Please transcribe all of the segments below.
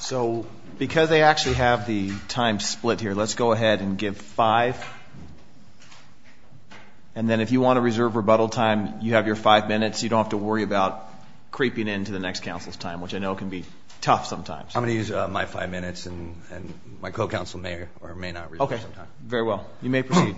So, because they actually have the time split here, let's go ahead and give five. And then if you want to reserve rebuttal time, you have your five minutes. You don't have to worry about creeping into the next counsel's time, which I know can be tough sometimes. I'm going to use my five minutes, and my co-counsel may or may not reserve some time. Okay, very well. You may proceed.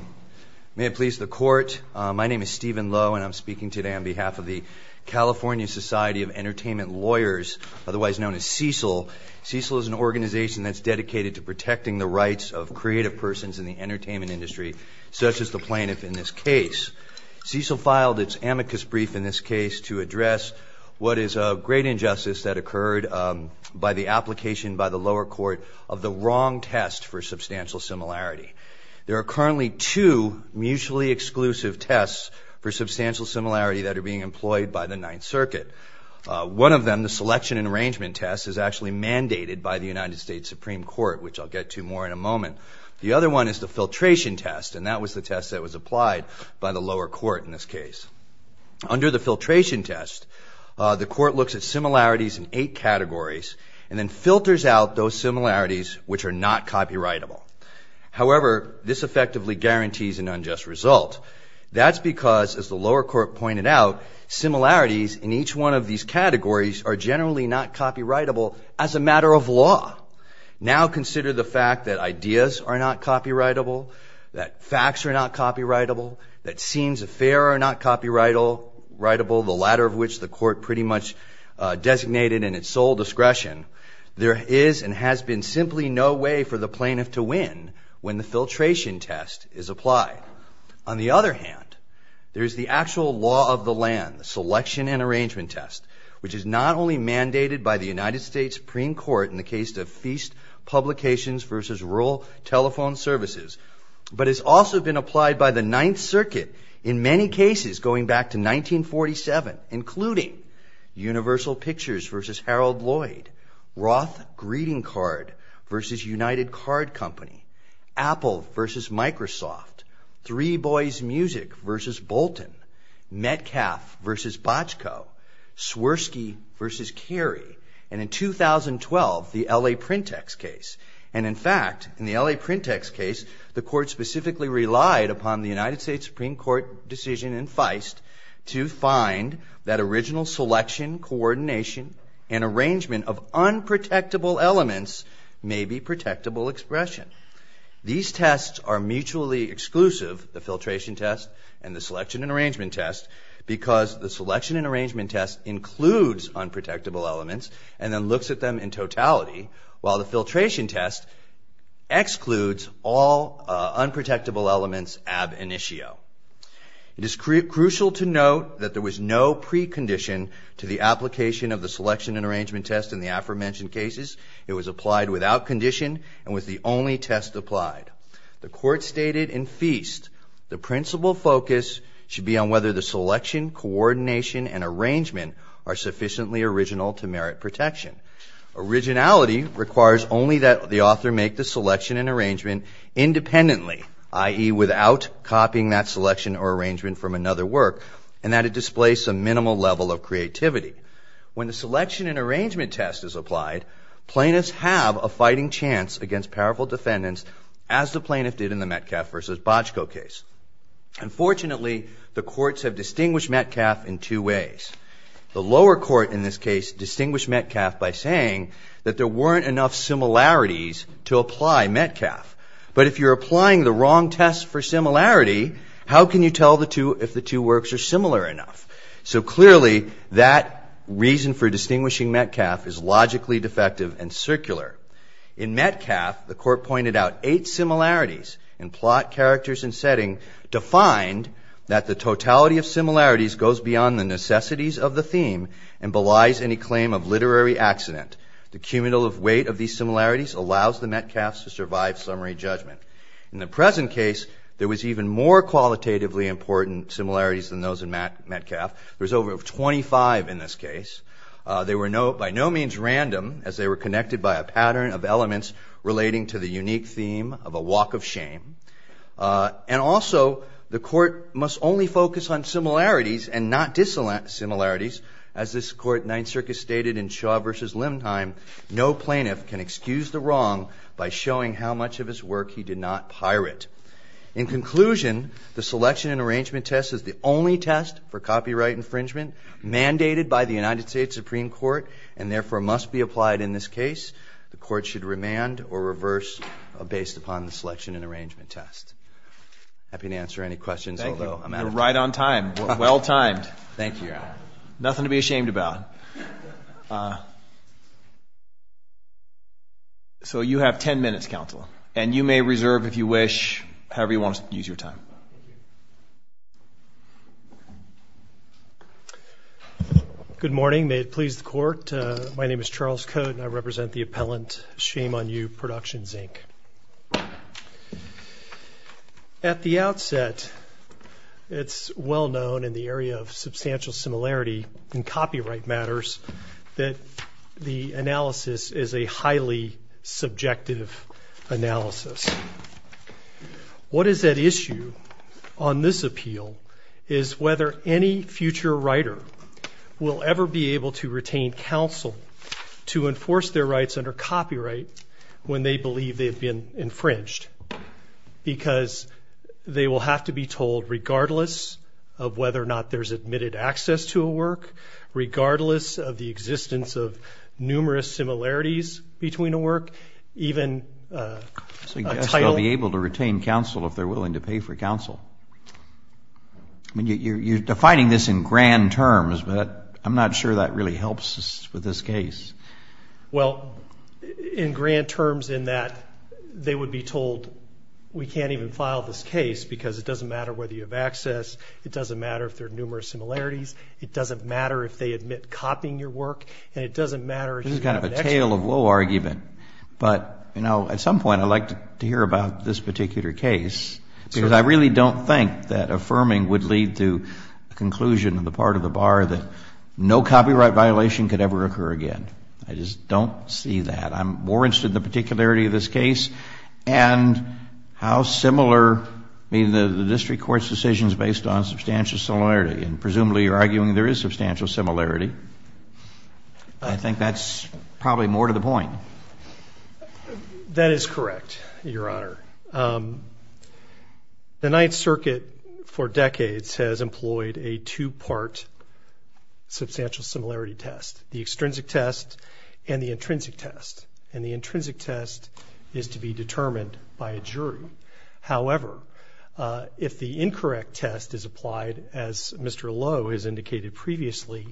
May it please the Court, my name is Stephen Lowe, and I'm speaking today on behalf of the California Society of Entertainment Lawyers, otherwise known as CECL. CECL is an organization that's dedicated to protecting the rights of creative persons in the entertainment industry, such as the plaintiff in this case. CECL filed its amicus brief in this case to address what is a great injustice that occurred by the application by the lower court of the wrong test for substantial similarity. There are currently two mutually exclusive tests for substantial similarity that are being employed by the Ninth Circuit. One of them, the Selection and Arrangement Test, is actually mandated by the United States Supreme Court, which I'll get to more in a moment. The other one is the Filtration Test, and that was the test that was applied by the lower court in this case. Under the Filtration Test, the court looks at similarities in eight categories and then filters out those similarities which are not copyrightable. However, this effectively guarantees an unjust result. That's because, as the lower court pointed out, similarities in each one of these categories are generally not copyrightable as a matter of law. Now consider the fact that ideas are not copyrightable, that facts are not copyrightable, that scenes of fare are not copyrightable, the latter of which the court pretty much designated in its sole discretion. There is and has been simply no way for the plaintiff to win when the Filtration Test is applied. On the other hand, there is the actual law of the land, the Selection and Arrangement Test, which is not only mandated by the United States Supreme Court in the case of Feast Publications versus Rural Telephone Services, but has also been applied by the Ninth Circuit in many cases going back to 1947, including Universal Pictures versus Harold Lloyd, Roth Greeting Card versus United Card Company, Apple versus Microsoft, Three Boys Music versus Bolton, Metcalfe versus Bochco, Swirsky versus Carey, and in 2012, the L.A. Printex case. And in fact, in the L.A. Printex case, the court specifically relied upon the United States Supreme Court decision in Feist to find that original selection, coordination, and arrangement of unprotectable elements may be protectable expression. These tests are mutually exclusive, the Filtration Test and the Selection and Arrangement Test, because the Selection and Arrangement Test includes unprotectable elements and then looks at them in totality, while the Filtration Test excludes all unprotectable elements ab initio. It is crucial to note that there was no precondition to the application of the Selection and Arrangement Test in the aforementioned cases. It was applied without condition and was the only test applied. The court stated in Feist, the principal focus should be on whether the selection, coordination, and arrangement are sufficiently original to merit protection. Originality requires only that the author make the selection and arrangement independently, i.e., without copying that selection or arrangement from another work, and that it displace a minimal level of creativity. When the Selection and Arrangement Test is applied, plaintiffs have a fighting chance against powerful defendants, as the plaintiff did in the Metcalf v. Bojko case. Unfortunately, the courts have distinguished Metcalf in two ways. The lower court in this case distinguished Metcalf by saying that there weren't enough similarities to apply Metcalf. But if you're applying the wrong test for similarity, how can you tell if the two works are similar enough? So clearly, that reason for distinguishing Metcalf is logically defective and circular. In Metcalf, the court pointed out eight similarities in plot, characters, and setting, defined that the totality of similarities goes beyond the necessities of the theme and belies any claim of literary accident. The cumulative weight of these similarities allows the Metcalfs to survive summary judgment. In the present case, there was even more qualitatively important similarities than those in Metcalf. There was over 25 in this case. They were by no means random, as they were connected by a pattern of elements relating to the unique theme of a walk of shame. And also, the court must only focus on similarities and not dissimilarities. As this court in Ninth Circuit stated in Shaw v. Limnheim, no plaintiff can excuse the wrong by showing how much of his work he did not pirate. In conclusion, the selection and arrangement test is the only test for copyright infringement mandated by the United States Supreme Court and therefore must be applied in this case. The court should remand or reverse based upon the selection and arrangement test. Happy to answer any questions, although I'm out of time. You're right on time. Well timed. Thank you. Nothing to be ashamed about. So you have ten minutes, counsel, and you may reserve if you wish, however you want to use your time. Good morning. May it please the court. My name is Charles Cote, and I represent the appellant, Shame on You, Productions, Inc. At the outset, it's well known in the area of substantial similarity in copyright matters that the analysis is a highly subjective analysis. What is at issue on this appeal is whether any future writer will ever be able to retain counsel to enforce their rights under copyright when they believe they've been infringed, because they will have to be told regardless of whether or not there's admitted access to a work, regardless of the existence of numerous similarities between a work, even a title. I suggest they'll be able to retain counsel if they're willing to pay for counsel. I mean, you're defining this in grand terms, but I'm not sure that really helps us with this case. Well, in grand terms in that they would be told we can't even file this case because it doesn't matter whether you have access, it doesn't matter if there are numerous similarities, it doesn't matter if they admit copying your work, and it doesn't matter if you have an extra. This is kind of a tale of woe argument, but, you know, at some point I'd like to hear about this particular case, because I really don't think that affirming would lead to a conclusion on the part of the bar that no copyright violation could ever occur again. I just don't see that. I'm more interested in the particularity of this case and how similar, I mean, the district court's decision is based on substantial similarity, and presumably you're arguing there is substantial similarity. I think that's probably more to the point. That is correct, Your Honor. The Ninth Circuit for decades has employed a two-part substantial similarity test, the extrinsic test and the intrinsic test, and the intrinsic test is to be determined by a jury. However, if the incorrect test is applied, as Mr. Lowe has indicated previously,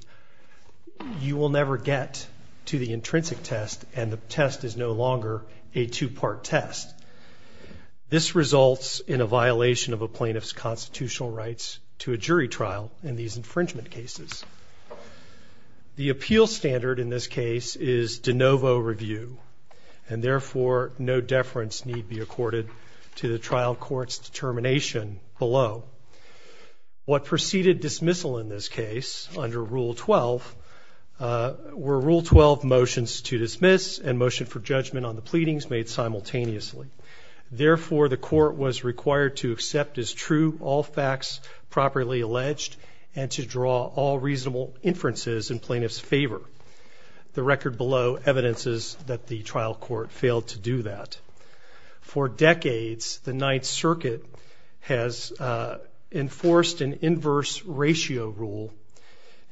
you will never get to the intrinsic test, and the test is no longer a two-part test. This results in a violation of a plaintiff's constitutional rights to a jury trial in these infringement cases. The appeal standard in this case is de novo review, and therefore no deference need be accorded to the trial court's determination below. What preceded dismissal in this case under Rule 12 were Rule 12 motions to dismiss and motion for judgment on the pleadings made simultaneously. Therefore, the court was required to accept as true all facts properly alleged and to draw all reasonable inferences in plaintiff's favor. The record below evidences that the trial court failed to do that. For decades, the Ninth Circuit has enforced an inverse ratio rule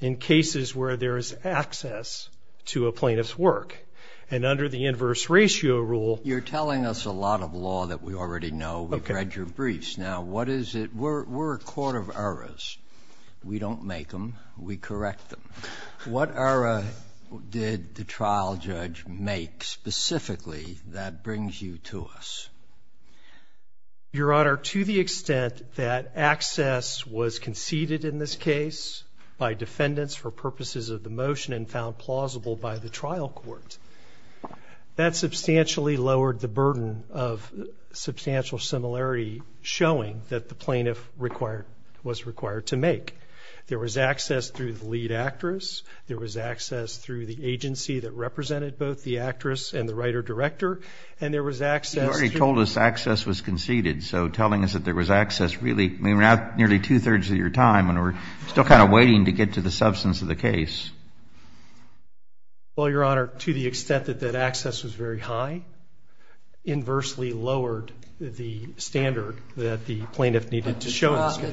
in cases where there is access to a plaintiff's work, and under the inverse ratio rule. You're telling us a lot of law that we already know. We've read your briefs. Now, what is it? We're a court of errors. We don't make them. We correct them. What error did the trial judge make specifically that brings you to us? Your Honor, to the extent that access was conceded in this case by defendants for purposes of the motion and found plausible by the trial court, that substantially lowered the burden of substantial similarity showing that the plaintiff was required to make. There was access through the lead actress. There was access through the agency that represented both the actress and the writer-director. And there was access to the plaintiff's work. You already told us access was conceded, so telling us that there was access really, I mean, we're now nearly two-thirds of your time, and we're still kind of waiting to get to the substance of the case. Well, Your Honor, to the extent that that access was very high, the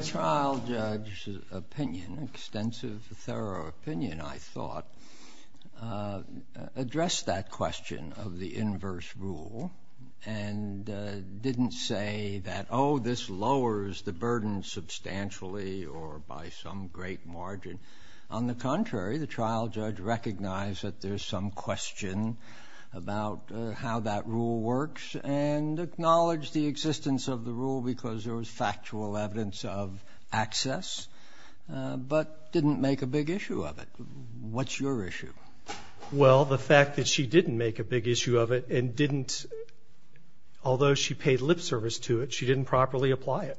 trial judge's opinion, extensive, thorough opinion, I thought, addressed that question of the inverse rule and didn't say that, oh, this lowers the burden substantially or by some great margin. On the contrary, the trial judge recognized that there's some question about how that rule works and acknowledged the existence of the rule because there was factual evidence of access, but didn't make a big issue of it. What's your issue? Well, the fact that she didn't make a big issue of it and didn't, although she paid lip service to it, she didn't properly apply it.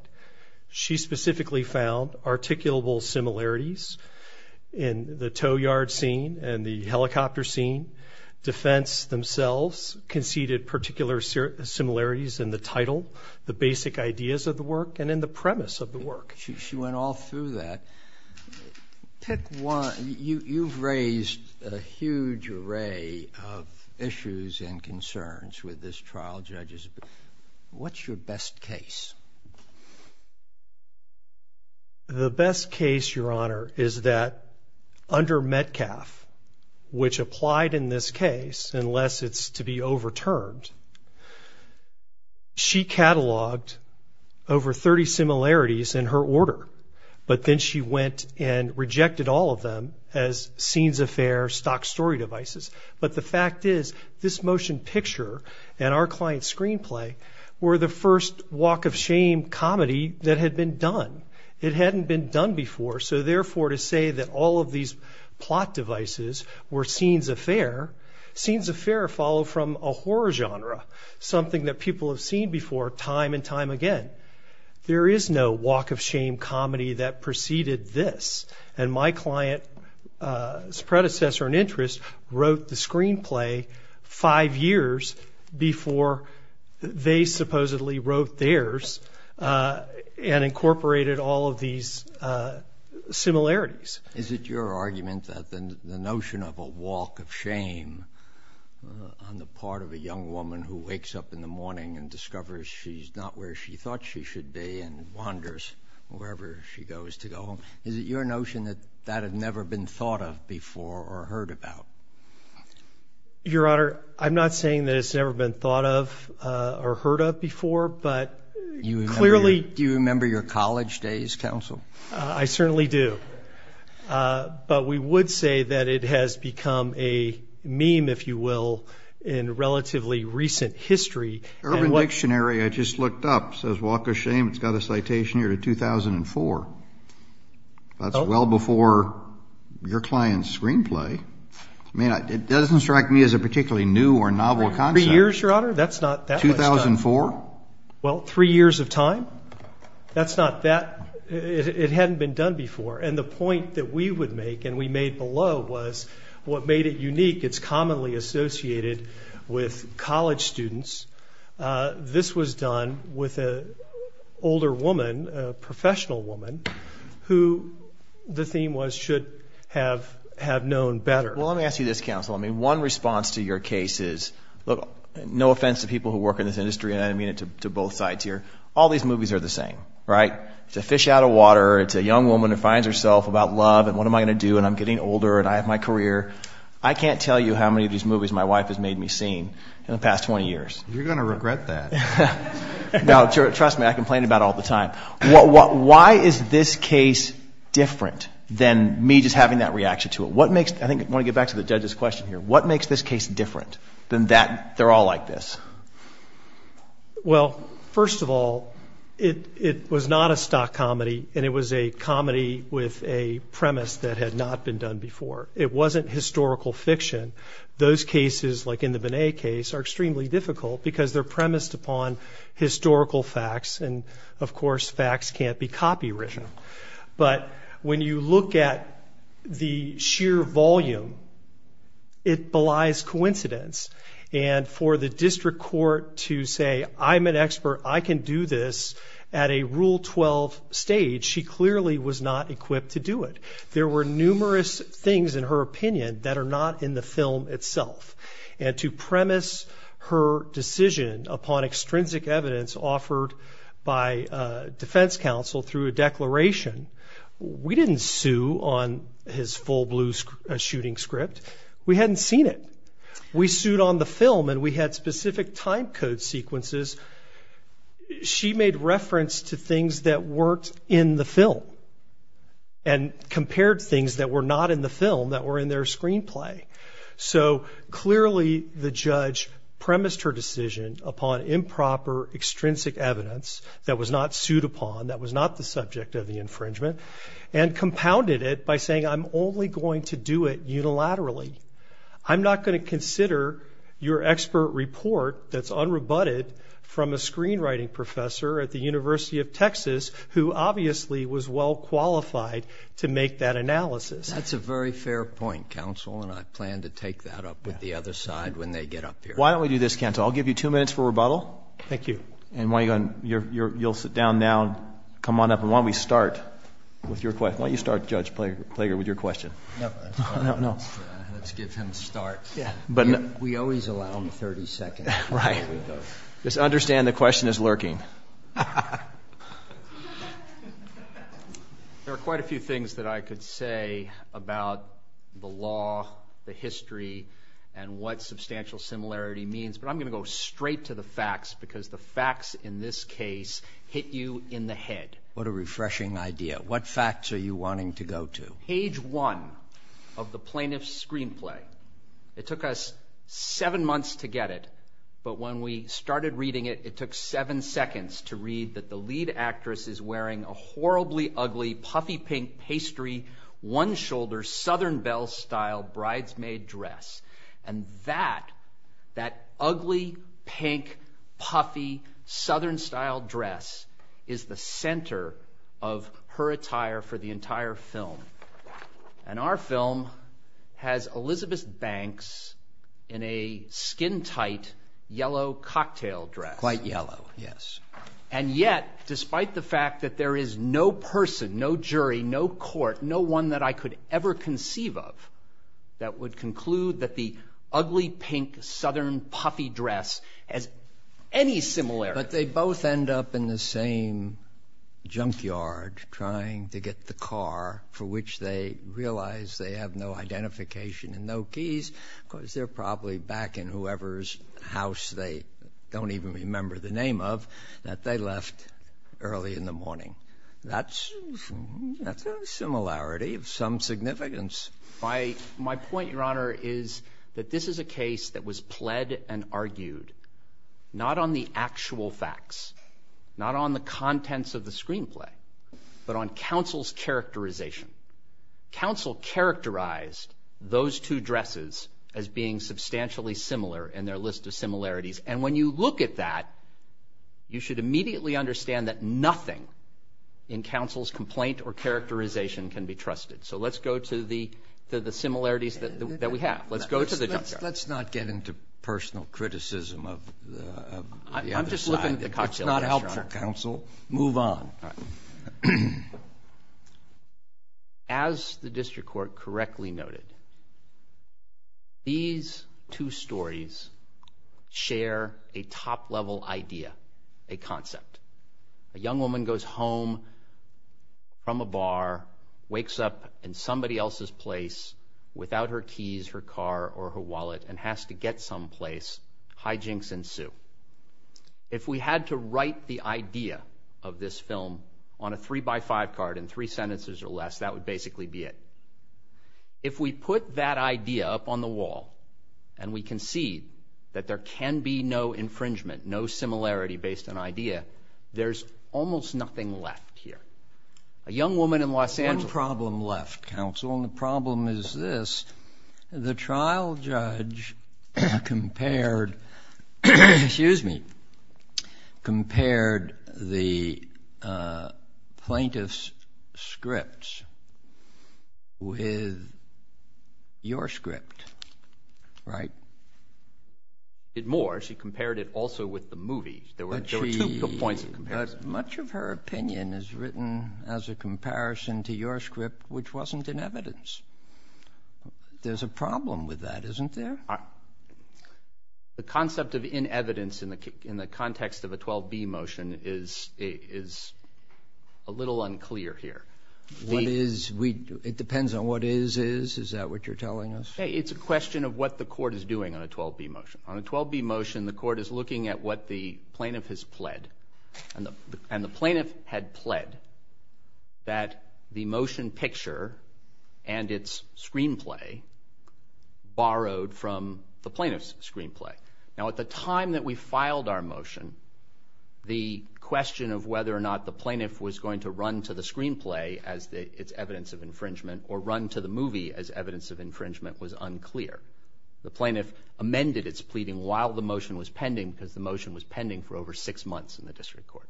She specifically found articulable similarities in the tow yard scene and the helicopter scene. Defense themselves conceded particular similarities in the title, the basic ideas of the work, and in the premise of the work. She went all through that. Pick one. You've raised a huge array of issues and concerns with this trial judge's opinion. What's your best case? The best case, Your Honor, is that under Metcalf, which applied in this case, unless it's to be overturned, she cataloged over 30 similarities in her order, but then she went and rejected all of them as scenes of fair stock story devices. But the fact is this motion picture and our client's screenplay were the first walk of shame comedy that had been done. It hadn't been done before, so therefore to say that all of these plot devices were scenes of fair, scenes of fair follow from a horror genre, something that people have seen before time and time again. There is no walk of shame comedy that preceded this, and my client's predecessor in interest wrote the screenplay five years before they supposedly wrote theirs and incorporated all of these similarities. Is it your argument that the notion of a walk of shame on the part of a young woman who wakes up in the morning and discovers she's not where she thought she should be and wanders wherever she goes to go home, is it your notion that that had never been thought of before or heard about? Your Honor, I'm not saying that it's never been thought of or heard of before, but clearly. Do you remember your college days, counsel? I certainly do. But we would say that it has become a meme, if you will, in relatively recent history. Urban Dictionary I just looked up says walk of shame. It's got a citation here to 2004. That's well before your client's screenplay. I mean, it doesn't strike me as a particularly new or novel concept. Three years, Your Honor? That's not that much time. 2004? Well, three years of time. That's not that. It hadn't been done before. And the point that we would make and we made below was what made it unique. It's commonly associated with college students. This was done with an older woman, a professional woman, who the theme was should have known better. Well, let me ask you this, counsel. I mean, one response to your case is, look, no offense to people who work in this industry, and I mean it to both sides here. All these movies are the same, right? It's a fish out of water. It's a young woman who finds herself about love and what am I going to do? And I'm getting older and I have my career. I can't tell you how many of these movies my wife has made me see in the past 20 years. You're going to regret that. No, trust me. I complain about it all the time. Why is this case different than me just having that reaction to it? I want to get back to the judge's question here. What makes this case different than that they're all like this? Well, first of all, it was not a stock comedy, and it was a comedy with a premise that had not been done before. It wasn't historical fiction. Those cases, like in the Binet case, are extremely difficult because they're premised upon historical facts, and, of course, facts can't be copywritten. But when you look at the sheer volume, it belies coincidence. And for the district court to say, I'm an expert, I can do this at a Rule 12 stage, she clearly was not equipped to do it. There were numerous things, in her opinion, that are not in the film itself. And to premise her decision upon extrinsic evidence offered by defense counsel through a declaration, we didn't sue on his full blue shooting script. We hadn't seen it. We sued on the film, and we had specific time code sequences. She made reference to things that weren't in the film and compared things that were not in the film that were in their screenplay. So clearly the judge premised her decision upon improper extrinsic evidence that was not sued upon, that was not the subject of the infringement, and compounded it by saying, I'm only going to do it unilaterally. I'm not going to consider your expert report that's unrebutted from a screenwriting professor at the University of Texas who obviously was well qualified to make that analysis. That's a very fair point, counsel, and I plan to take that up with the other side when they get up here. Why don't we do this, counsel? I'll give you two minutes for rebuttal. Thank you. And you'll sit down now and come on up. And why don't we start with your question? Why don't you start, Judge Plager, with your question? No. No, no. Let's give him a start. We always allow him 30 seconds. Right. Just understand the question is lurking. There are quite a few things that I could say about the law, the history, and what substantial similarity means, but I'm going to go straight to the facts because the facts in this case hit you in the head. What a refreshing idea. What facts are you wanting to go to? Page one of the plaintiff's screenplay, it took us seven months to get it, but when we started reading it, it took seven seconds to read that the lead actress is wearing a horribly ugly, puffy-pink, pastry, one-shoulder, Southern Belle-style bridesmaid dress. And that, that ugly, pink, puffy, Southern-style dress is the center of her attire for the entire film. And our film has Elizabeth Banks in a skin-tight, yellow cocktail dress. Quite yellow, yes. And yet, despite the fact that there is no person, no jury, no court, no one that I could ever conceive of, that would conclude that the ugly, pink, Southern, puffy dress has any similarity. But they both end up in the same junkyard trying to get the car for which they realize they have no identification and no keys because they're probably back in whoever's house they don't even remember the name of that they left early in the morning. That's a similarity of some significance. My point, Your Honor, is that this is a case that was pled and argued not on the actual facts, not on the contents of the screenplay, but on counsel's characterization. Counsel characterized those two dresses as being substantially similar in their list of similarities. And when you look at that, you should immediately understand that nothing in counsel's complaint or characterization can be trusted. So let's go to the similarities that we have. Let's go to the junkyard. Let's not get into personal criticism of the other side. I'm just looking at the cocktail restaurant. It's not helpful, counsel. Move on. All right. As the district court correctly noted, these two stories share a top-level idea, a concept. A young woman goes home from a bar, wakes up in somebody else's place without her keys, her car, or her wallet, and has to get someplace. Hijinks ensue. If we had to write the idea of this film on a three-by-five card in three sentences or less, that would basically be it. If we put that idea up on the wall and we concede that there can be no infringement, no similarity based on idea, there's almost nothing left here. A young woman in Los Angeles. One problem left, counsel, and the problem is this. The trial judge compared the plaintiff's scripts with your script, right? Did more. She compared it also with the movie. There were two points of comparison. Much of her opinion is written as a comparison to your script, which wasn't in evidence. There's a problem with that, isn't there? The concept of in evidence in the context of a 12B motion is a little unclear here. It depends on what is is? Is that what you're telling us? It's a question of what the court is doing on a 12B motion. On a 12B motion, the court is looking at what the plaintiff has pled. And the plaintiff had pled that the motion picture and its screenplay borrowed from the plaintiff's screenplay. Now, at the time that we filed our motion, the question of whether or not the plaintiff was going to run to the screenplay as its evidence of infringement or run to the movie as evidence of infringement was unclear. The plaintiff amended its pleading while the motion was pending because the motion was pending for over six months in the district court.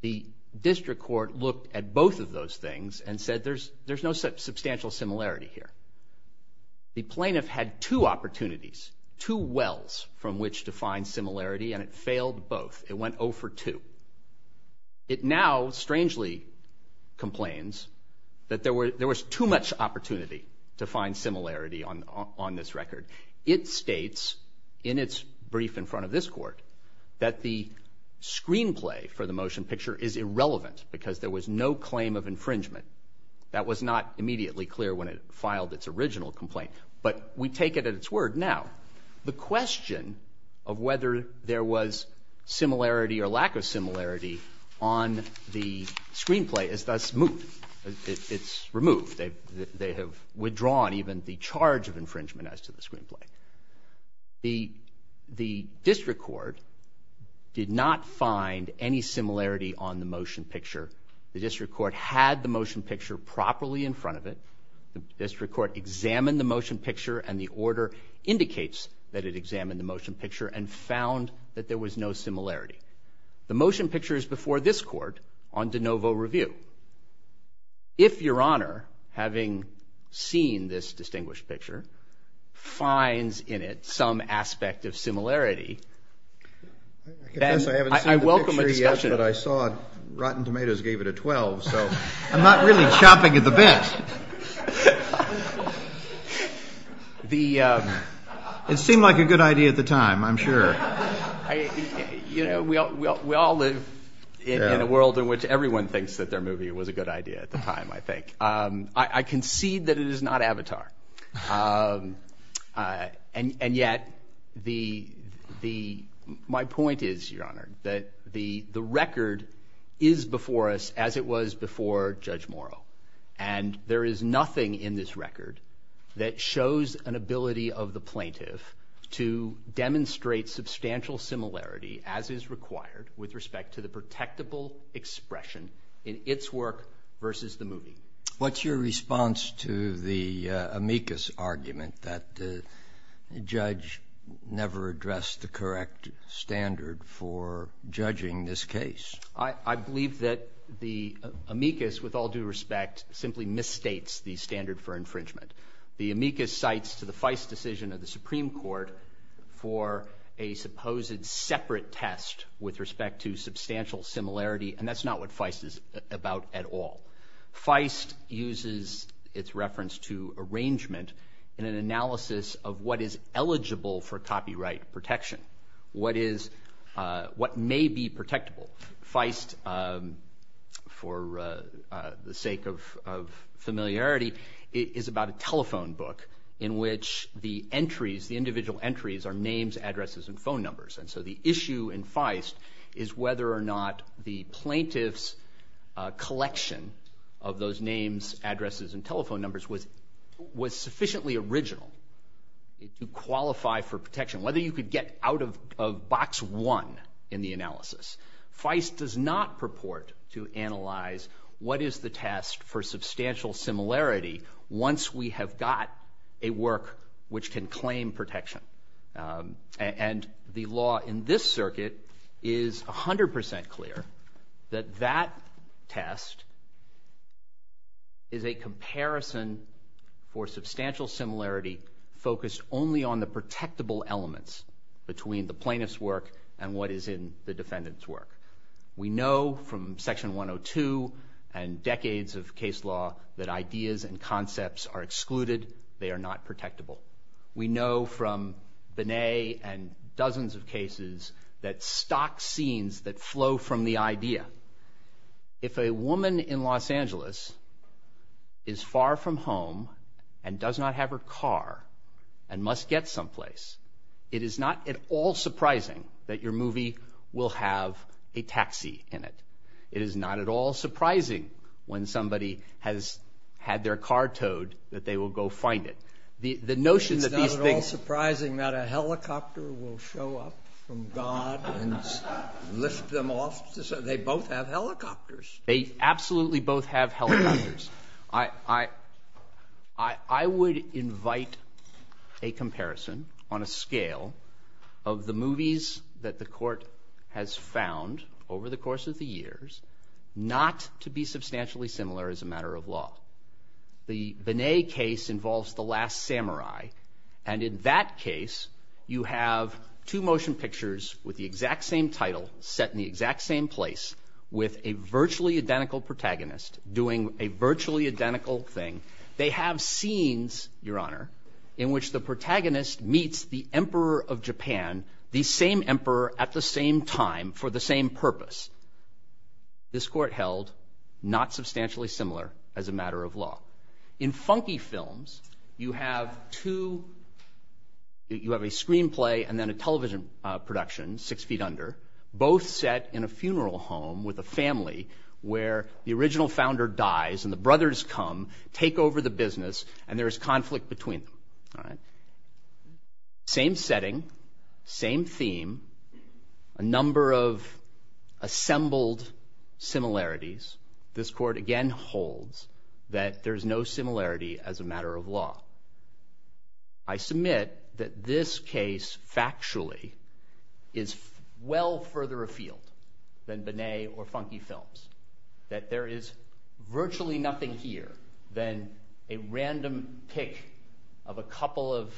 The district court looked at both of those things and said there's no substantial similarity here. The plaintiff had two opportunities, two wells from which to find similarity, and it failed both. It went 0 for 2. It now strangely complains that there was too much opportunity to find similarity on this record. It states in its brief in front of this court that the screenplay for the motion picture is irrelevant because there was no claim of infringement. That was not immediately clear when it filed its original complaint, but we take it at its word now. The question of whether there was similarity or lack of similarity on the screenplay is thus moved. It's removed. They have withdrawn even the charge of infringement as to the screenplay. The district court did not find any similarity on the motion picture. The district court had the motion picture properly in front of it. The district court examined the motion picture, and the order indicates that it examined the motion picture and found that there was no similarity. The motion picture is before this court on de novo review. If Your Honor, having seen this distinguished picture, finds in it some aspect of similarity, then I welcome a discussion. I confess I haven't seen the picture yet, but I saw Rotten Tomatoes gave it a 12, so I'm not really chopping at the bit. It seemed like a good idea at the time, I'm sure. We all live in a world in which everyone thinks that their movie was a good idea at the time, I think. I concede that it is not Avatar, and yet my point is, Your Honor, that the record is before us as it was before Judge Morrow, and there is nothing in this record that shows an ability of the plaintiff to demonstrate substantial similarity, as is required with respect to the protectable expression in its work versus the movie. What's your response to the amicus argument that the judge never addressed the correct standard for judging this case? I believe that the amicus, with all due respect, simply misstates the standard for infringement. The amicus cites to the Feist decision of the Supreme Court for a supposed separate test with respect to substantial similarity, and that's not what Feist is about at all. Feist uses its reference to arrangement in an analysis of what is eligible for copyright protection, what may be protectable. Feist, for the sake of familiarity, is about a telephone book in which the individual entries are names, addresses, and phone numbers. And so the issue in Feist is whether or not the plaintiff's collection of those names, addresses, and telephone numbers was sufficiently original to qualify for protection, whether you could get out of box one in the analysis. Feist does not purport to analyze what is the test for substantial similarity once we have got a work which can claim protection. And the law in this circuit is 100 percent clear that that test is a comparison for substantial similarity focused only on the protectable elements between the plaintiff's work and what is in the defendant's work. We know from Section 102 and decades of case law that ideas and concepts are excluded. They are not protectable. We know from Binet and dozens of cases that stock scenes that flow from the idea. If a woman in Los Angeles is far from home and does not have her car and must get someplace, it is not at all surprising that your movie will have a taxi in it. It is not at all surprising when somebody has had their car towed that they will go find it. It is not at all surprising that a helicopter will show up from God and lift them off. They both have helicopters. They absolutely both have helicopters. I would invite a comparison on a scale of the movies that the Court has found over the course of the years not to be substantially similar as a matter of law. The Binet case involves The Last Samurai, and in that case you have two motion pictures with the exact same title set in the exact same place with a virtually identical protagonist doing a virtually identical thing. They have scenes, Your Honor, in which the protagonist meets the Emperor of Japan, the same emperor at the same time for the same purpose. This Court held not substantially similar as a matter of law. In funky films, you have a screenplay and then a television production, six feet under, both set in a funeral home with a family where the original founder dies and the brothers come, take over the business, and there is conflict between them. Same setting, same theme, a number of assembled similarities. This Court again holds that there is no similarity as a matter of law. I submit that this case factually is well further afield than Binet or funky films, that there is virtually nothing here than a random pick of a couple of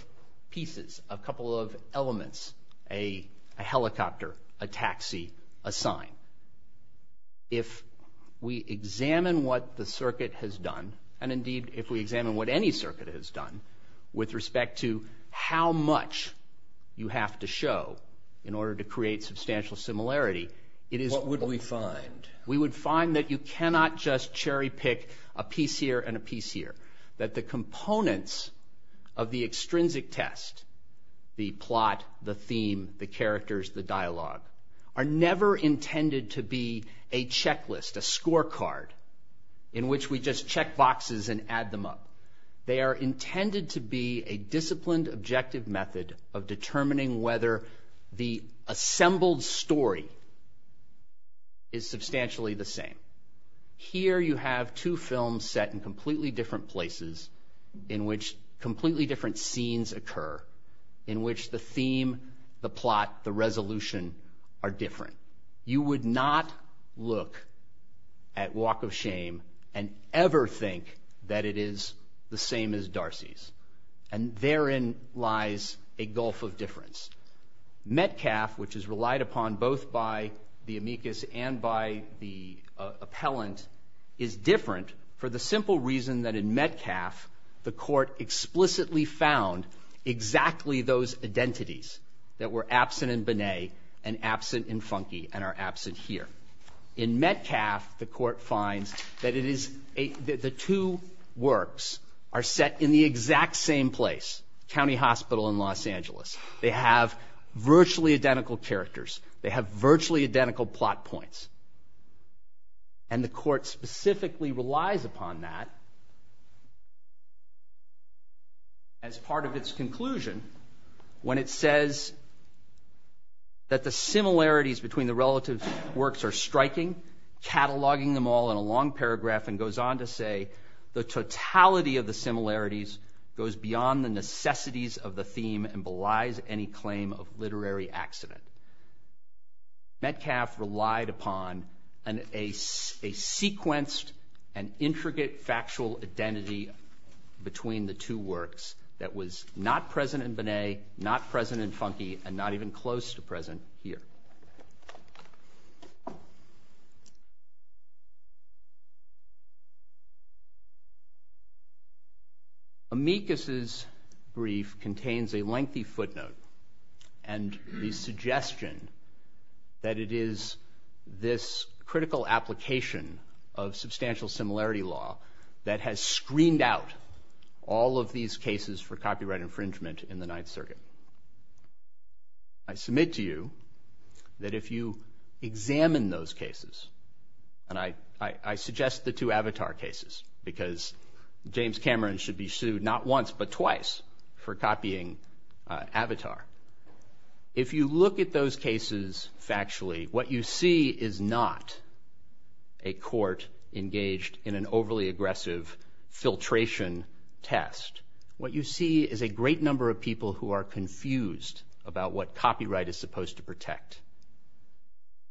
pieces, a couple of elements, a helicopter, a taxi, a sign. If we examine what the circuit has done, and indeed if we examine what any circuit has done with respect to how much you have to show in order to create substantial similarity, it is... What would we find? We would find that you cannot just cherry pick a piece here and a piece here, that the components of the extrinsic test, the plot, the theme, the characters, the dialogue, are never intended to be a checklist, a scorecard in which we just check boxes and add them up. They are intended to be a disciplined, objective method of determining whether the assembled story is substantially the same. Here you have two films set in completely different places in which completely different scenes occur, in which the theme, the plot, the resolution are different. You would not look at Walk of Shame and ever think that it is the same as Darcy's. And therein lies a gulf of difference. Metcalfe, which is relied upon both by the amicus and by the appellant, is different for the simple reason that in Metcalfe the court explicitly found exactly those identities that were absent in Binet and absent in Funke and are absent here. In Metcalfe, the court finds that the two works are set in the exact same place, County Hospital in Los Angeles. They have virtually identical characters. They have virtually identical plot points. And the court specifically relies upon that as part of its conclusion when it says that the similarities between the relative works are striking, cataloging them all in a long paragraph, and goes on to say, the totality of the similarities goes beyond the necessities of the theme and belies any claim of literary accident. Metcalfe relied upon a sequenced and intricate factual identity between the two works that was not present in Binet, not present in Funke, and not even close to present here. Amicus's brief contains a lengthy footnote and the suggestion that it is this critical application of substantial similarity law that has screened out all of these cases for copyright infringement in the Ninth Circuit. I submit to you that if you examine those cases, and I suggest the two Avatar cases because James Cameron should be sued not once but twice for copying Avatar. If you look at those cases factually, what you see is not a court engaged in an overly aggressive filtration test. What you see is a great number of people who are confused about what copyright is supposed to protect.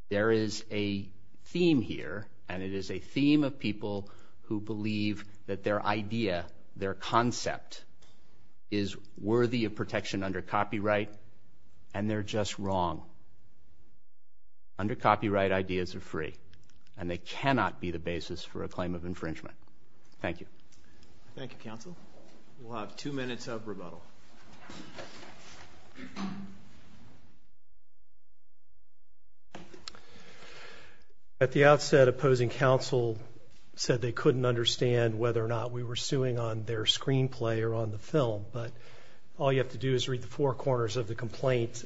There is a theme here, and it is a theme of people who believe that their idea, their concept is worthy of protection under copyright, and they're just wrong. Under copyright, ideas are free, and they cannot be the basis for a claim of infringement. Thank you. Thank you, counsel. We'll have two minutes of rebuttal. At the outset, opposing counsel said they couldn't understand whether or not we were suing on their screenplay or on the film, but all you have to do is read the four corners of the complaint.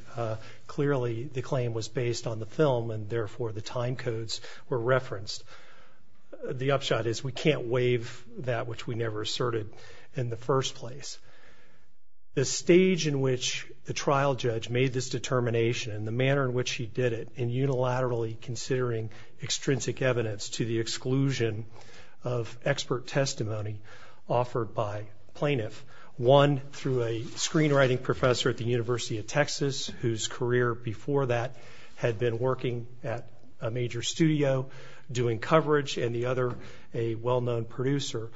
Clearly, the claim was based on the film, and therefore the time codes were referenced. The upshot is we can't waive that which we never asserted in the first place. The stage in which the trial judge made this determination and the manner in which he did it in unilaterally considering extrinsic evidence to the exclusion of expert testimony offered by plaintiff, one through a screenwriting professor at the University of Texas whose career before that had been working at a major studio doing coverage, and the other a well-known producer,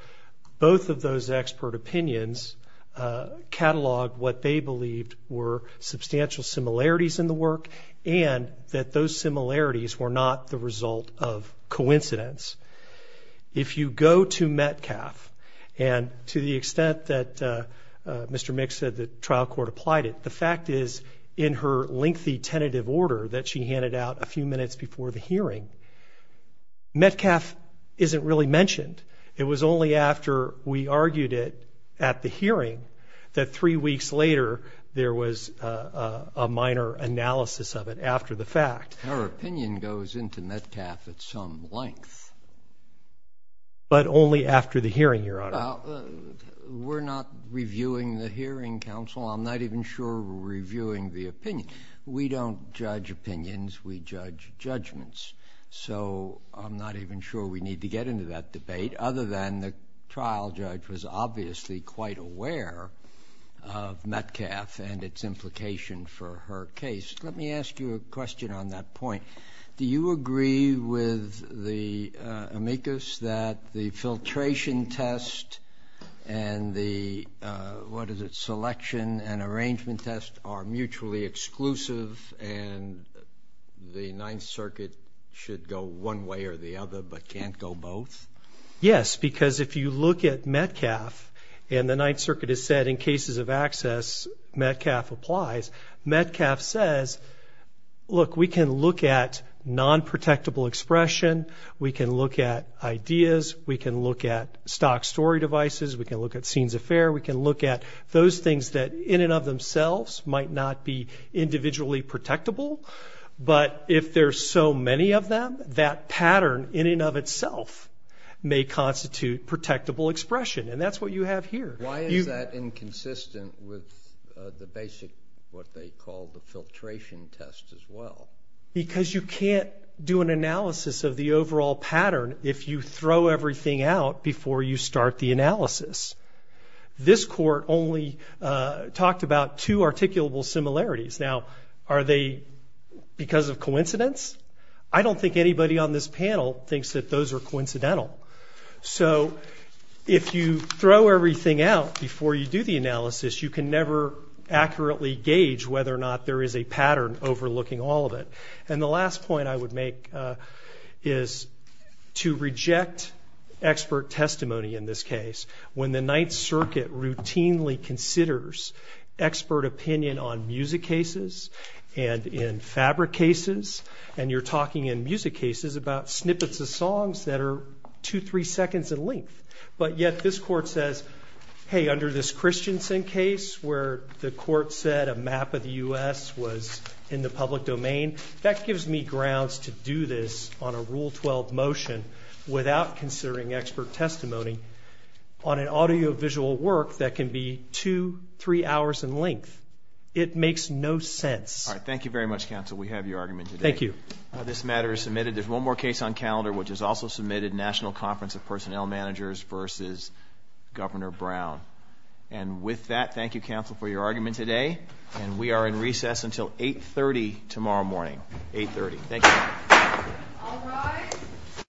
both of those expert opinions cataloged what they believed were substantial similarities in the work and that those similarities were not the result of coincidence. If you go to Metcalf, and to the extent that Mr. Mick said the trial court applied it, the fact is in her lengthy tentative order that she handed out a few minutes before the hearing, Metcalf isn't really mentioned. It was only after we argued it at the hearing that three weeks later there was a minor analysis of it after the fact. Her opinion goes into Metcalf at some length. But only after the hearing, Your Honor. We're not reviewing the hearing, counsel. I'm not even sure we're reviewing the opinion. We don't judge opinions. We judge judgments. So I'm not even sure we need to get into that debate, other than the trial judge was obviously quite aware of Metcalf and its implication for her case. Let me ask you a question on that point. Do you agree with the amicus that the filtration test and the selection and arrangement test are mutually exclusive and the Ninth Circuit should go one way or the other but can't go both? Yes, because if you look at Metcalf, and the Ninth Circuit has said in cases of access Metcalf applies, Metcalf says, look, we can look at non-protectable expression. We can look at ideas. We can look at stock story devices. We can look at scenes of fare. We can look at those things that in and of themselves might not be individually protectable. But if there's so many of them, that pattern in and of itself may constitute protectable expression. And that's what you have here. Why is that inconsistent with the basic what they call the filtration test as well? Because you can't do an analysis of the overall pattern if you throw everything out before you start the analysis. This court only talked about two articulable similarities. Now, are they because of coincidence? I don't think anybody on this panel thinks that those are coincidental. So if you throw everything out before you do the analysis, you can never accurately gauge whether or not there is a pattern overlooking all of it. And the last point I would make is to reject expert testimony in this case. When the Ninth Circuit routinely considers expert opinion on music cases and in fabric cases, and you're talking in music cases about snippets of songs that are two, three seconds in length, but yet this court says, hey, under this Christensen case where the court said a map of the U.S. was in the public domain, that gives me grounds to do this on a Rule 12 motion without considering expert testimony on an audiovisual work that can be two, three hours in length. It makes no sense. All right. Thank you very much, counsel. We have your argument today. Thank you. This matter is submitted. There's one more case on calendar which is also submitted, National Conference of Personnel Managers v. Governor Brown. And with that, thank you, counsel, for your argument today. And we are in recess until 8.30 tomorrow morning. 8.30. Thank you. All rise.